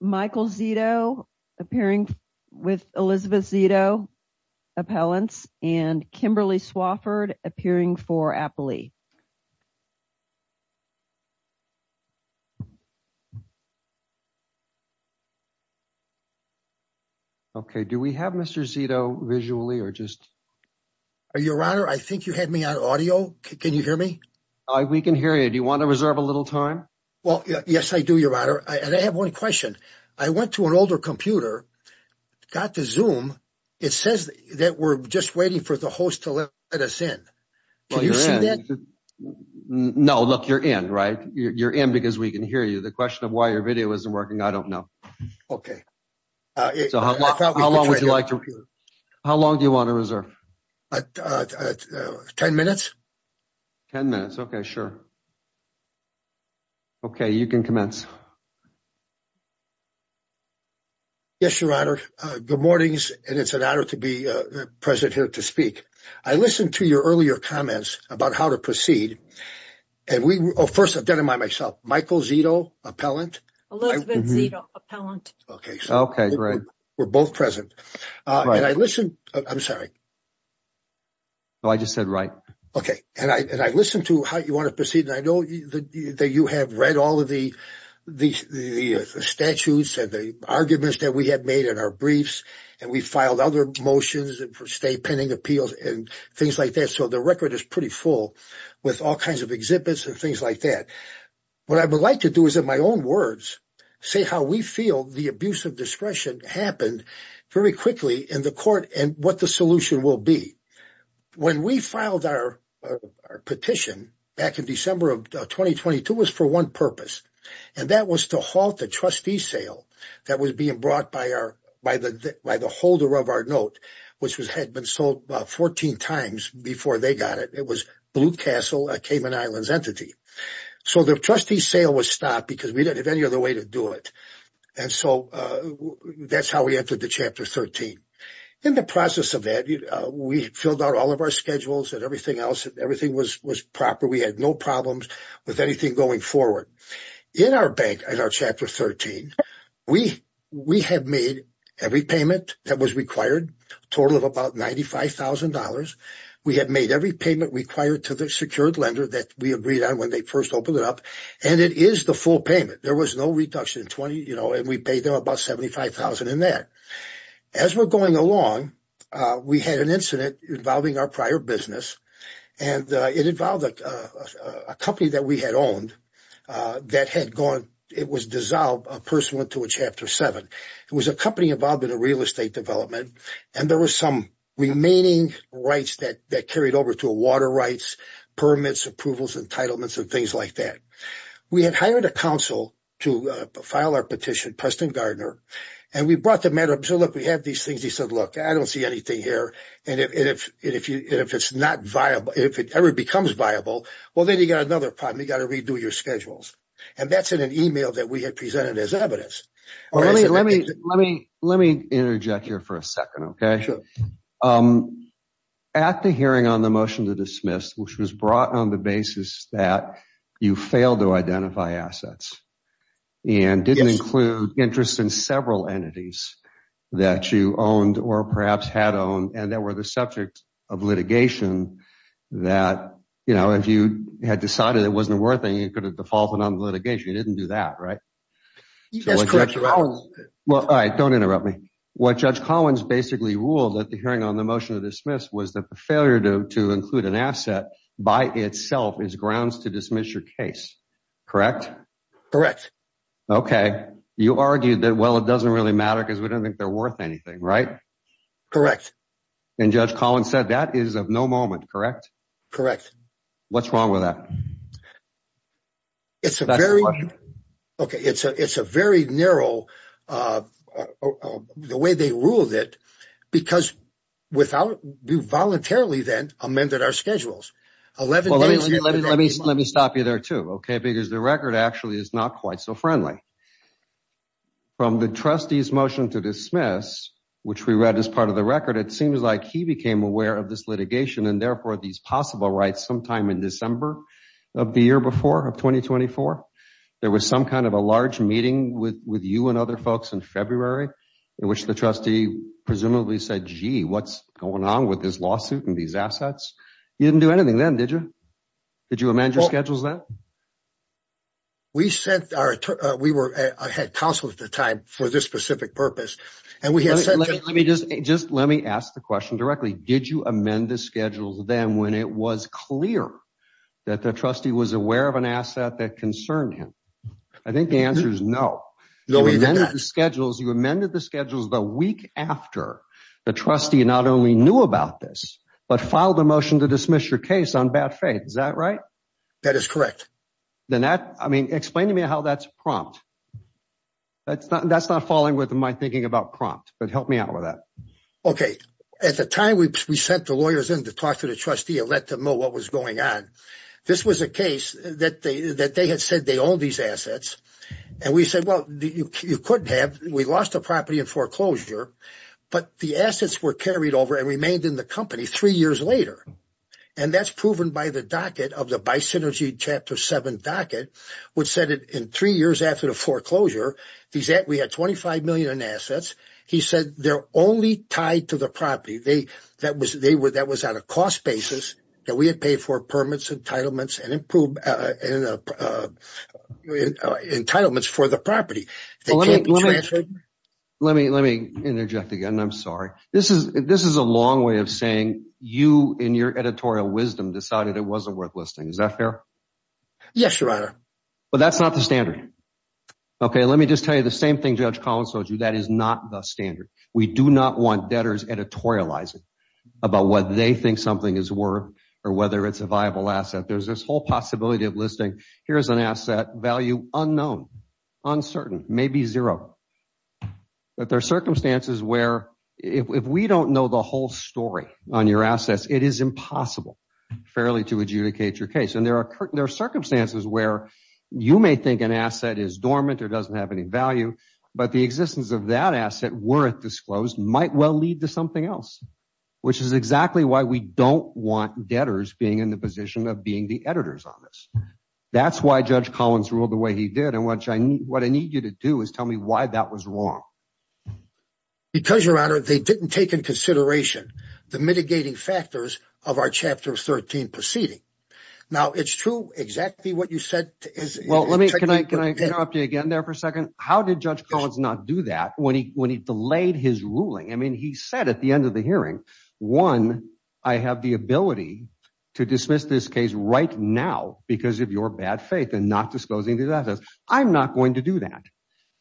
Michael Zito appearing with Elizabeth Zito appellants and Kimberly Swafford appearing for Appalee. Okay, do we have Mr. Zito visually or just are your honor? I think you had me on audio. Can you hear me? We can hear you. Do you want to reserve a little time? Well, yes, I do. Thank you, your honor. And I have one question. I went to an older computer, got the zoom, it says that we're just waiting for the host to let us in. No, look, you're in right you're in because we can hear you the question of why your video isn't working. I don't know. Okay. So how long would you like to? How long do you want to reserve? 10 minutes. 10 minutes. Okay, sure. Okay, you can commence. Yes, your honor. Good mornings. And it's an honor to be present here to speak. I listened to your earlier comments about how to proceed. And we first identify myself, Michael Zito appellant, Okay, great. We're both present. And I listened, I'm sorry. Oh, I just said right. Okay. And I listened to how you want to proceed. And I know that you have read all of the, the statutes and the arguments that we have made in our briefs. And we filed other motions and for state pending appeals and things like that. So the record is pretty full with all kinds of exhibits and things like that. What I would like to do is in my own words, say how we feel the abuse of discretion happened very quickly in the court and what the solution will be. When we filed our petition back in December of 2022 was for one purpose. And that was to halt the trustee sale that was being brought by our by the by the holder of our note, which was had been sold about 14 times before they got it. It was Blue Castle, a Cayman Islands entity. So the trustee sale was stopped because we didn't have any other way to do it. And so that's how we entered the chapter 13. In the process of that, we filled out all of our schedules and everything else. Everything was, was proper. We had no problems with anything going forward in our bank, in our chapter 13, we, we have made every payment that was required total of about $95,000. We have made every payment required to the secured lender that we agreed on when they first opened it up. And it is the full payment. There was no reduction in 20, you know, and we paid them about 75,000 in that. As we're going along, we had an incident involving our prior business and it involved a company that we had owned that had gone, it was dissolved, a person went to a chapter seven. It was a company involved in a real estate development, and there was some remaining rights that that carried over to water rights, permits, approvals, entitlements, and things like that. We had hired a counsel to file our petition, Preston Gardner, and we brought the matter up. So look, we have these things. He said, look, I don't see anything here. And if, and if, and if it's not viable, if it ever becomes viable, well, then you got another problem. You got to redo your schedules. And that's in an email that we had presented as evidence. Well, let me, let me, let me, let me interject here for a second. OK, sure. At the hearing on the motion to dismiss, which was brought on the basis that you failed to identify assets and didn't include interest in several entities that you owned or perhaps had owned. And that were the subject of litigation that, you know, if you had decided it wasn't worth it, you could have defaulted on the litigation. You didn't do that, right? You just correct your own. Well, don't interrupt me. What Judge Collins basically ruled at the hearing on the motion to dismiss was that the failure to include an asset by itself is grounds to dismiss your case, correct? Correct. OK, you argued that, well, it doesn't really matter because we don't think they're worth anything, right? Correct. And Judge Collins said that is of no moment, correct? Correct. What's wrong with that? It's a very OK, it's a it's a very narrow the way they ruled it, because without you voluntarily then amended our schedules. Well, let me let me let me stop you there, too, OK, because the record actually is not quite so friendly. From the trustees motion to dismiss, which we read as part of the record, it seems like he became aware of this litigation and therefore these possible rights sometime in December of the year before of twenty twenty four, there was some kind of a large meeting with with you and other folks in February in which the trustee presumably said, gee, what's going on with this lawsuit and these assets? You didn't do anything then, did you? Did you amend your schedules that? We sent our we were I had counsel at the time for this specific purpose and we had said, let me just let me ask the question directly, did you amend the schedules then when it was clear that the trustee was aware of an asset that concerned him? I think the answer is no. No, we didn't have schedules. You amended the schedules the week after the trustee not only knew about this, but filed a motion to dismiss your case on bad faith. Is that right? That is correct. Then that I mean, explain to me how that's prompt. That's not that's not falling with my thinking about prompt, but help me out with that. OK, at the time, we sent the lawyers in to talk to the trustee and let them know what was going on. This was a case that they that they had said they all these assets and we said, well, you couldn't have we lost a property in foreclosure, but the assets were carried over and remained in the company three years later. And that's proven by the docket of the by synergy chapter seven docket, which said that in three years after the foreclosure, these that we had twenty five million in assets, he said they're only tied to the property. They that was they were that was out of cost basis that we had paid for permits, entitlements and improve entitlements for the property. So let me let me let me interject again. I'm sorry. This is this is a long way of saying you in your editorial wisdom decided it wasn't worth listening. Is that fair? Yes, your honor. But that's not the standard. OK, let me just tell you the same thing. Judge Collins told you that is not the standard. We do not want debtors editorializing about what they think something is worth or whether it's a viable asset. There's this whole possibility of listing here is an asset value unknown, uncertain, maybe zero. But there are circumstances where if we don't know the whole story on your assets, it is impossible fairly to adjudicate your case. And there are there are circumstances where you may think an asset is dormant or doesn't have any value, but the existence of that asset were it disclosed might well lead to something else, which is exactly why we don't want debtors being in the position of being the editors on this. That's why Judge Collins ruled the way he did. And what I need what I need you to do is tell me why that was wrong. Because, your honor, they didn't take in consideration the mitigating factors of our chapter 13 proceeding. Now, it's true exactly what you said is. Well, let me can I can I interrupt you again there for a second? How did Judge Collins not do that when he when he delayed his ruling? I mean, he said at the end of the hearing, one, I have the ability to dismiss this case right now because of your bad faith and not disclosing that I'm not going to do that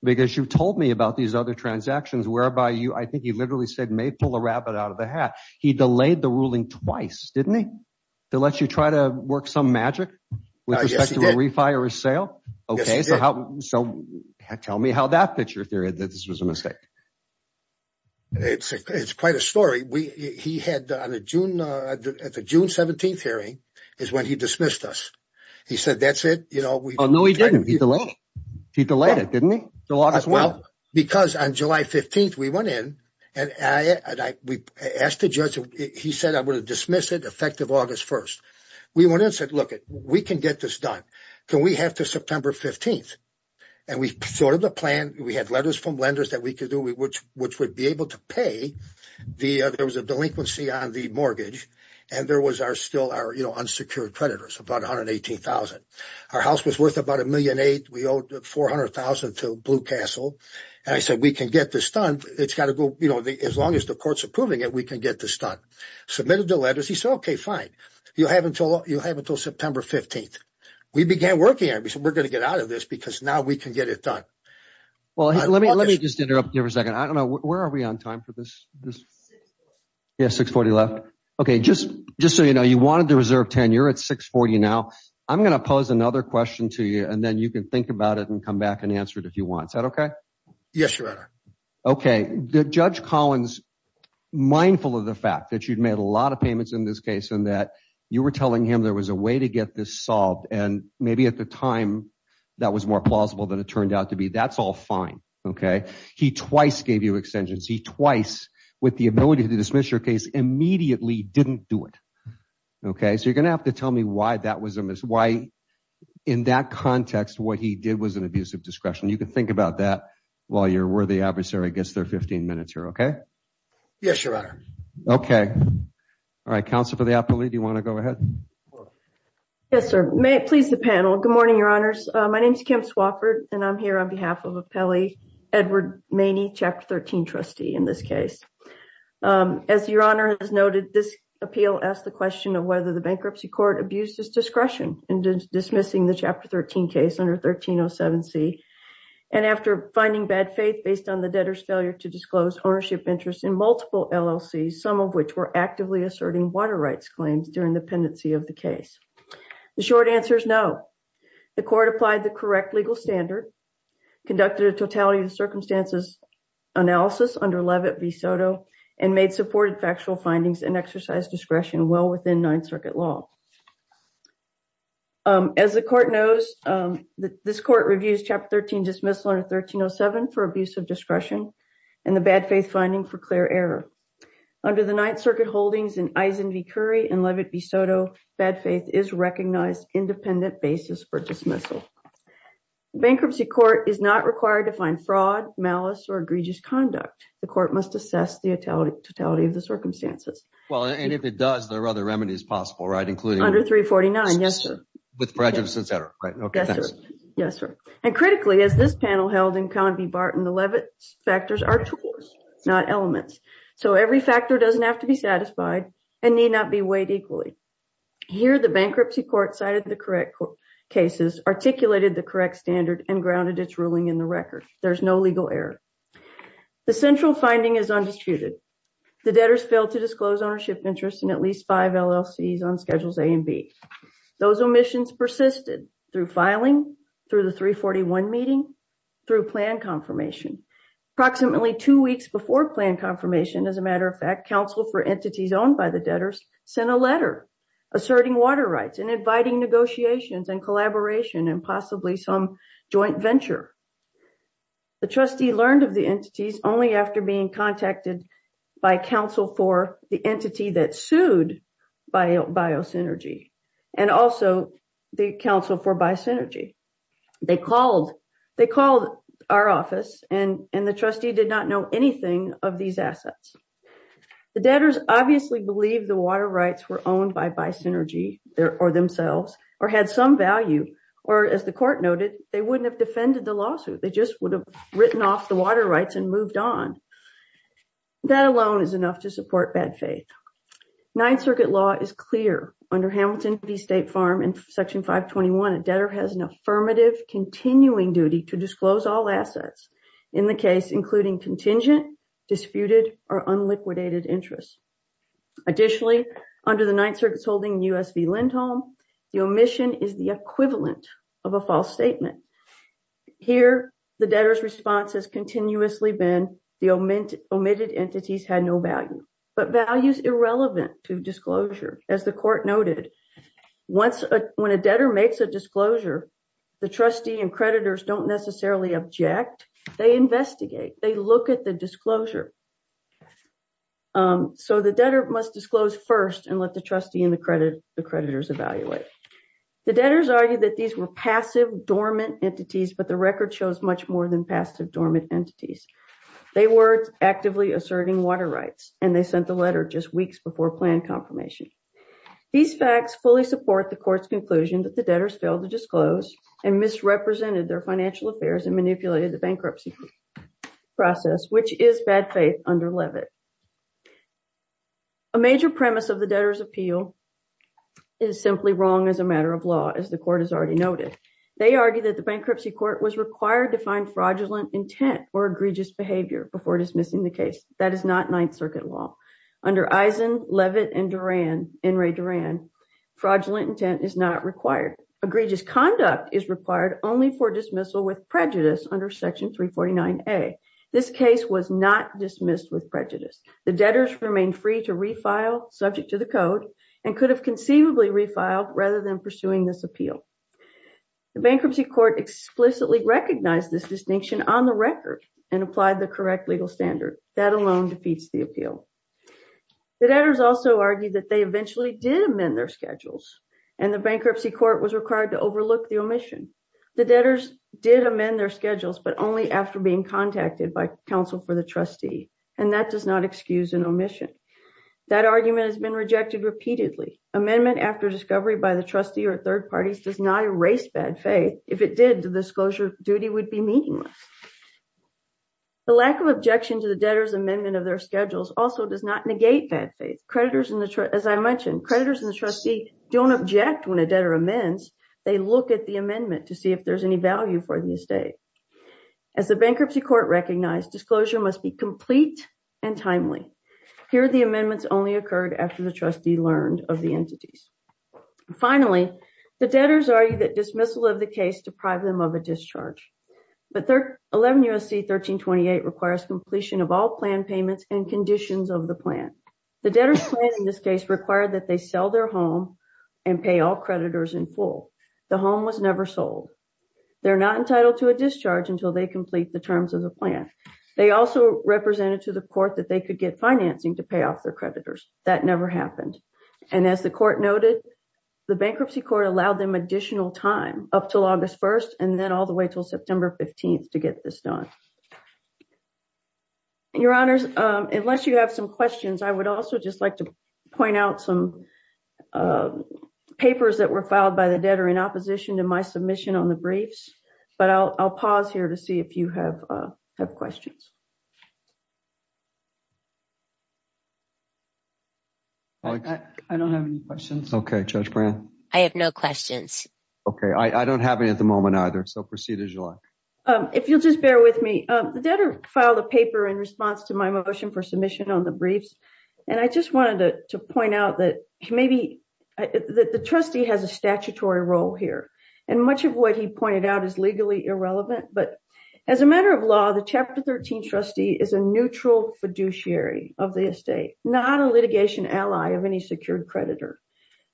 because you've told me about these other transactions whereby you I think he literally said may pull a rabbit out of the hat. He delayed the ruling twice, didn't he? To let you try to work some magic with respect to a refire sale. OK, so tell me how that fits your theory that this was a mistake. It's it's quite a story we he had on a June at the June 17th hearing is when he dismissed us, he said, that's it. You know, we know he didn't. He delayed. He delayed it, didn't he? So as well, because on July 15th, we went in and I asked the judge, he said, I'm going to dismiss it effective August 1st. We went and said, look, we can get this done. Can we have to September 15th? And we thought of the plan. We had letters from lenders that we could do, which which would be able to pay the there was a delinquency on the mortgage. And there was our still our unsecured creditors, about one hundred eighteen thousand. Our house was worth about a million eight. We owed four hundred thousand to Blue Castle. And I said, we can get this done. It's got to go. As long as the court's approving it, we can get this done. Submitted the letters. He said, OK, fine. You have until you have until September 15th. We began working and we said we're going to get out of this because now we can get it done. Well, let me let me just interrupt you for a second. I don't know. Where are we on time for this? This is six forty left. OK, just just so you know, you wanted to reserve tenure at six forty now. I'm going to pose another question to you and then you can think about it and come back and answer it if you want. Is that OK? Yes, Your Honor. OK, Judge Collins, mindful of the fact that you'd made a lot of payments in this case and that you were telling him there was a way to get this solved. And maybe at the time that was more plausible than it turned out to be. That's all fine. OK, he twice gave you extensions. He twice with the ability to dismiss your case immediately didn't do it. OK, so you're going to have to tell me why that was. Why in that context, what he did was an abuse of discretion. You can think about that while you're worthy adversary gets their 15 minutes here. OK, yes, Your Honor. OK, all right. Counsel for the appellee, do you want to go ahead? Yes, sir. May it please the panel. Good morning, Your Honors. My name is Kim Swofford and I'm here on behalf of Appellee Edward Maney, Chapter 13 trustee in this case. As Your Honor has noted, this appeal asked the question of whether the bankruptcy court abused his discretion in dismissing the Chapter 13 case under 1307 C. And after finding bad faith based on the debtor's failure to disclose ownership interest in multiple LLC, some of which were actively asserting water rights claims during the pendency of the case. The short answer is no. The court applied the correct legal standard, conducted a totality of the circumstances analysis under Levitt v. Soto and made supported factual findings and exercise discretion well within Ninth Circuit law. As the court knows, this court reviews Chapter 13 dismissal under 1307 for abuse of discretion and the bad faith finding for clear error. Under the Ninth Circuit holdings in Eisen v. Curry and Levitt v. Soto, bad faith is recognized independent basis for dismissal. Bankruptcy court is not required to find fraud, malice or egregious conduct. The court must assess the totality of the circumstances. Well, and if it does, there are other remedies possible, right, including under 349. Yes, sir. With prejudice, et cetera. Yes, sir. And critically, as this panel held in Convy Barton, the Levitt factors are tools, not elements. So every factor doesn't have to be satisfied and need not be weighed equally. Here, the bankruptcy court cited the correct cases, articulated the correct standard and grounded its ruling in the record. There's no legal error. The central finding is undisputed. The debtors failed to disclose ownership interest in at least five LLCs on schedules A and B. Those omissions persisted through filing, through the 341 meeting, through plan confirmation. Approximately two weeks before plan confirmation, as a matter of fact, counsel for entities owned by the debtors sent a letter asserting water rights and inviting negotiations and collaboration and possibly some joint venture, the trustee learned of the entities only after being contacted by counsel for the entity that sued Biosynergy and also the counsel for Bysynergy. They called, they called our office and the trustee did not know anything of these assets. The debtors obviously believe the water rights were owned by Bysynergy or themselves, or had some value, or as the court noted, they wouldn't have defended the lawsuit. They just would have written off the water rights and moved on. That alone is enough to support bad faith. Ninth circuit law is clear under Hamilton v. State Farm and section 521. A debtor has an affirmative continuing duty to disclose all assets in the case, including contingent, disputed or unliquidated interest. Additionally, under the Ninth Circuit's holding US v. Lindholm, the omission is the equivalent of a false statement. Here, the debtor's response has continuously been the omitted entities had no value, but values irrelevant to disclosure, as the court noted. Once, when a debtor makes a disclosure, the trustee and creditors don't necessarily object, they investigate, they look at the disclosure. So the debtor must disclose first and let the trustee and the creditors evaluate. The debtors argue that these were passive dormant entities, but the record shows much more than passive dormant entities. They were actively asserting water rights and they sent the letter just weeks before planned confirmation. These facts fully support the court's conclusion that the debtors failed to disclose and misrepresented their financial affairs and manipulated the bankruptcy process, which is bad faith under Levitt. A major premise of the debtor's appeal is simply wrong as a matter of law. As the court has already noted, they argue that the bankruptcy court was required to find fraudulent intent or egregious behavior before dismissing the case, that is not Ninth Circuit law. Under Eisen, Levitt, and Doran, Enright Doran, fraudulent intent is not required. Egregious conduct is required only for dismissal with prejudice under section 349A. This case was not dismissed with prejudice. The debtors remained free to refile subject to the code and could have conceivably refiled rather than pursuing this appeal. The bankruptcy court explicitly recognized this distinction on the record and applied the correct legal standard. That alone defeats the appeal. The debtors also argue that they eventually did amend their schedules and the bankruptcy court was required to overlook the omission. The debtors did amend their schedules, but only after being contacted by the trustee. And that does not excuse an omission. That argument has been rejected repeatedly. Amendment after discovery by the trustee or third parties does not erase bad faith. If it did, the disclosure duty would be meaningless. The lack of objection to the debtor's amendment of their schedules also does not negate bad faith. Creditors in the, as I mentioned, creditors and the trustee don't object when a debtor amends. They look at the amendment to see if there's any value for the estate. As the bankruptcy court recognized, disclosure must be complete and timely. Here, the amendments only occurred after the trustee learned of the entities. Finally, the debtors argue that dismissal of the case deprived them of a discharge. But 11 U.S.C. 1328 requires completion of all plan payments and conditions of the plan. The debtor's plan in this case required that they sell their home and pay all creditors in full. The home was never sold. They're not entitled to a discharge until they complete the terms of the plan. They also represented to the court that they could get financing to pay off their creditors. That never happened. And as the court noted, the bankruptcy court allowed them additional time up till August 1st and then all the way till September 15th to get this done. Your honors, unless you have some questions, I would also just like to point out some of the papers that were filed by the debtor in opposition to my submission on the briefs. But I'll pause here to see if you have questions. I don't have any questions. Okay, Judge Brand. I have no questions. Okay, I don't have any at the moment either. So proceed as you like. If you'll just bear with me. The debtor filed a paper in response to my motion for submission on the briefs. And I just wanted to point out that maybe the trustee has a statutory role here. And much of what he pointed out is legally irrelevant. But as a matter of law, the Chapter 13 trustee is a neutral fiduciary of the estate, not a litigation ally of any secured creditor.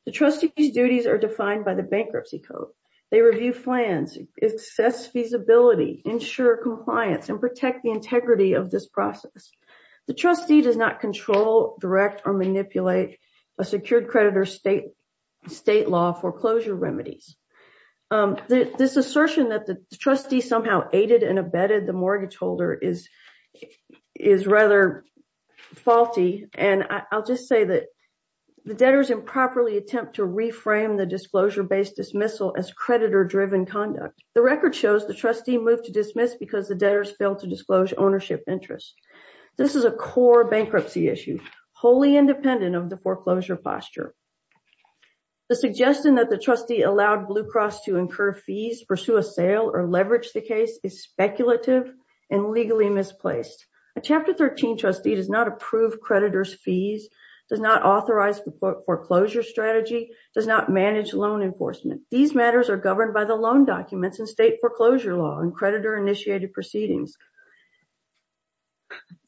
The trustee's duties are defined by the bankruptcy code. They review plans, assess feasibility, ensure compliance, and protect the integrity of this process. The trustee does not control, direct, or manipulate a secured creditor's state law foreclosure remedies. This assertion that the trustee somehow aided and abetted the mortgage holder is rather faulty. And I'll just say that the debtors improperly attempt to reframe the disclosure-based dismissal as creditor-driven conduct. The record shows the trustee moved to dismiss because the debtors failed to disclose ownership interests. This is a core bankruptcy issue, wholly independent of the foreclosure posture. The suggestion that the trustee allowed Blue Cross to incur fees, pursue a sale, or leverage the case is speculative and legally misplaced. A Chapter 13 trustee does not approve creditor's fees, does not authorize the foreclosure strategy, does not manage loan enforcement. These matters are governed by the loan documents and state foreclosure law and creditor-initiated proceedings.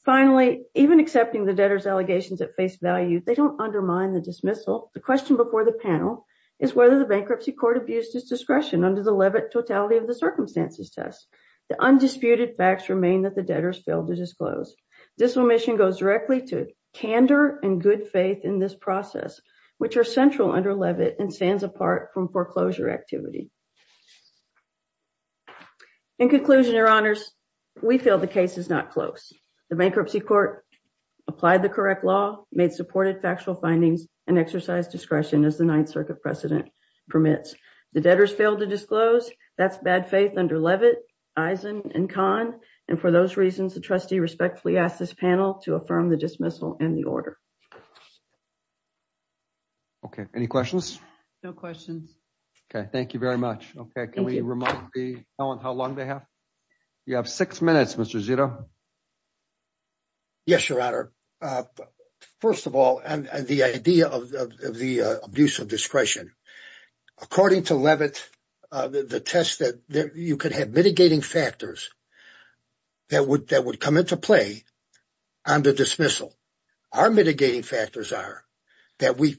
Finally, even accepting the debtors' allegations at face value, they don't undermine the dismissal. The question before the panel is whether the bankruptcy court abused its discretion under the Levitt Totality of the Circumstances test. The undisputed facts remain that the debtors failed to disclose. This omission goes directly to candor and good faith in this process, which are central under Levitt and stands apart from foreclosure activity. In conclusion, Your Honors, we feel the case is not close. The bankruptcy court applied the correct law, made supported factual findings, and exercised discretion as the Ninth Circuit precedent permits. The debtors failed to disclose. That's bad faith under Levitt, Eisen, and Kahn. And for those reasons, the trustee respectfully asked this panel to affirm the dismissal and the order. Okay, any questions? No questions. Okay, thank you very much. Okay, can we remind the panel how long they have? You have six minutes, Mr. Zito. Yes, Your Honor. First of all, the idea of the abuse of discretion. According to Levitt, the test that you could have mitigating factors that would come into play under dismissal. Our mitigating factors are that we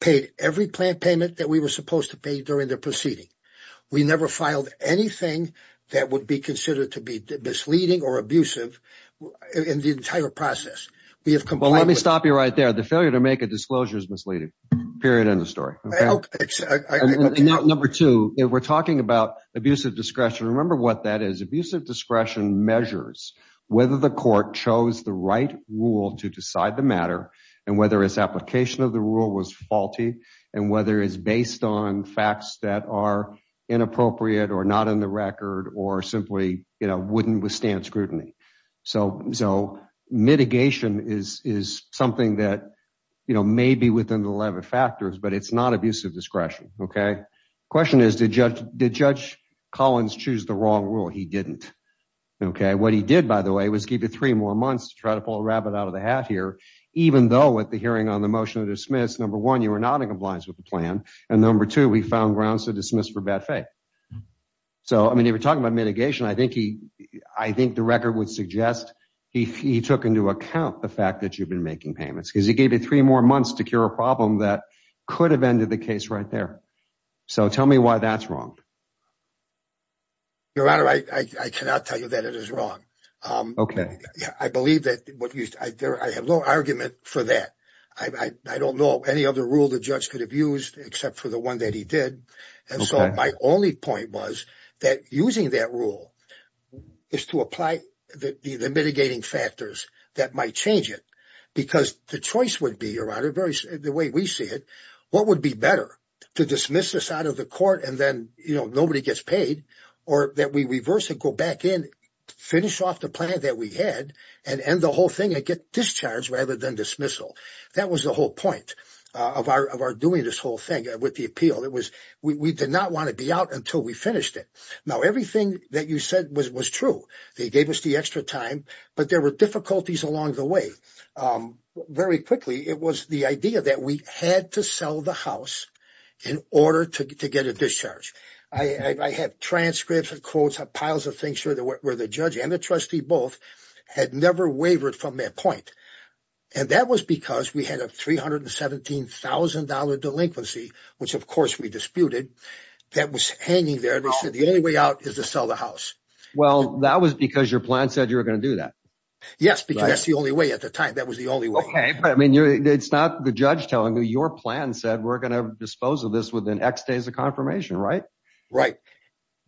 paid every plant payment that we were supposed to pay during the proceeding. We never filed anything that would be considered to be misleading or abusive in the entire process. Well, let me stop you right there. The failure to make a disclosure is misleading. Period. End of story. Number two, we're talking about abuse of discretion. Remember what that is. Abuse of discretion measures whether the court chose the right rule to decide the matter and whether its application of the rule was faulty and whether it's based on facts that are inappropriate or not in the record or simply wouldn't withstand scrutiny. So mitigation is something that may be within the Levitt factors, but it's not abuse of discretion. Okay, question is, did Judge Collins choose the wrong rule? He didn't. Okay, what he did, by the way, was give you three more months to try to pull a rabbit out of the hat here. Even though at the hearing on the motion of dismiss, number one, you were not in compliance with the plan, and number two, we found grounds to dismiss for bad faith. So, I mean, you were talking about mitigation. I think the record would suggest he took into account the fact that you've been making payments because he gave you three more months to cure a problem that could have ended the case right there. So tell me why that's wrong. Your Honor, I cannot tell you that it is wrong. Okay. I believe that what you said, I have no argument for that. I don't know any other rule the judge could have used except for the one that he did. And so my only point was that using that rule is to apply the mitigating factors that might change it. Because the choice would be, Your Honor, the way we see it, what would be better, to dismiss this out of the court and then, you know, nobody gets paid, or that we reverse it, go back in, finish off the plan that we had and end the whole thing and get discharged rather than dismissal. That was the whole point of our doing this whole thing with the appeal. It was, we did not want to be out until we finished it. Now, everything that you said was true. They gave us the extra time, but there were difficulties along the way. Very quickly, it was the idea that we had to sell the house in order to get a discharge. I have transcripts and quotes, have piles of things where the judge and the trustee both had never wavered from that point. And that was because we had a $317,000 delinquency, which of course we disputed, that was hanging there. And we said the only way out is to sell the house. Well, that was because your plan said you were going to do that. Yes, because that's the only way at the time. That was the only way. Okay, but I mean, it's not the judge telling you, your plan said we're going to dispose of this within X days of confirmation, right? Right.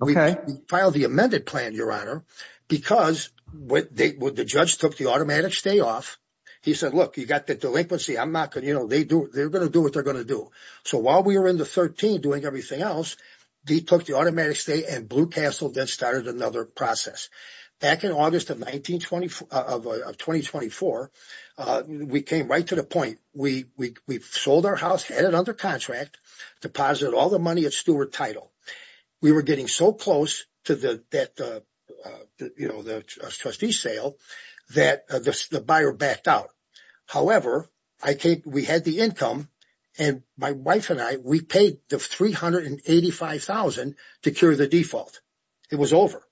We filed the amended plan, your honor, because the judge took the automatic stay off. He said, look, you got the delinquency. I'm not going to, you know, they're going to do what they're going to do. So while we were in the 13 doing everything else, they took the automatic stay and Blue Castle then started another process. Back in August of 2024, we came right to the point. We sold our house, had it under contract, deposited all the money at Stewart Title. We were getting so close to the trustee sale that the buyer backed out. However, we had the income and my wife and I, we paid the $385,000 to cure the default. It was over.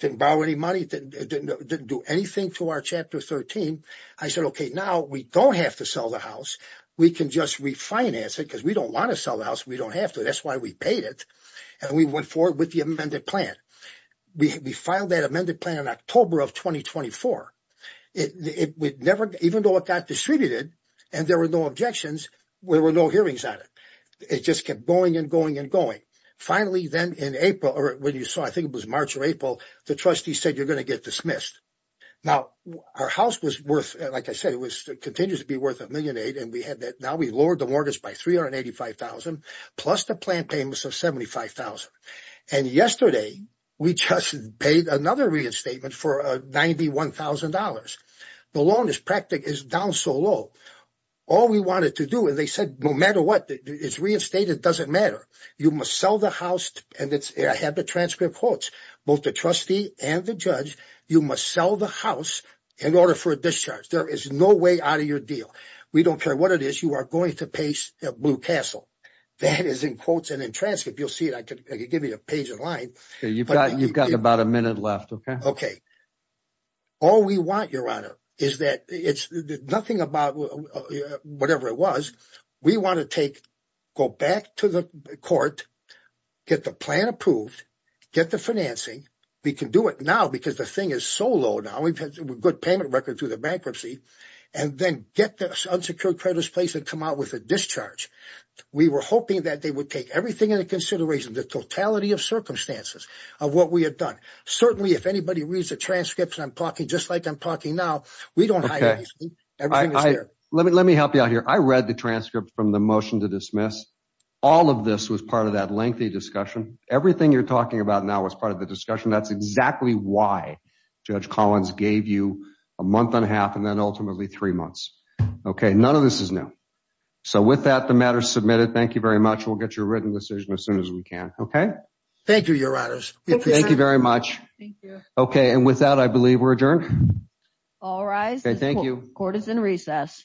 Didn't borrow any money, didn't do anything to our Chapter 13. I said, okay, now we don't have to sell the house. We can just refinance it because we don't want to sell the house. We don't have to. That's why we paid it and we went forward with the amended plan. We filed that amended plan in October of 2024. Even though it got distributed and there were no objections, there were no hearings on it. It just kept going and going and going. Finally, then in April, or when you saw, I think it was March or April, the trustee said, you're going to get dismissed. Now, our house was worth, like I said, it was continues to be worth $1.8 million. Now we lowered the mortgage by $385,000 plus the plan payments of $75,000. Yesterday, we just paid another reinstatement for $91,000. The loan is down so low. All we wanted to do, and they said, no matter what, it's reinstated, doesn't matter. You must sell the house. I have the transcript quotes, both the trustee and the judge, you must sell the house in order for a discharge. There is no way out of your deal. We don't care what it is. You are going to pay Blue Castle. That is in quotes and in transcript. You'll see it. I could give you a page in line. You've got about a minute left, okay? All we want, Your Honor, is that it's nothing about whatever it was. We want to go back to the court, get the plan approved, get the financing. We can do it now because the thing is so low now. Good payment record through the bankruptcy. Then get the unsecured creditors place and come out with a discharge. We were hoping that they would take everything into consideration, the totality of circumstances of what we had done. Certainly, if anybody reads the transcripts, I'm talking just like I'm talking now. We don't hire these people. Everything is there. Let me help you out here. I read the transcript from the motion to dismiss. All of this was part of that lengthy discussion. Everything you're talking about now was part of the discussion. That's exactly why Judge Collins gave you a month and a half and then ultimately three months. None of this is new. With that, the matter is submitted. Thank you very much. We'll get your written decision as soon as we can. Thank you, Your Honors. Thank you very much. With that, I believe we're adjourned. All rise. Okay, thank you. Court is in recess.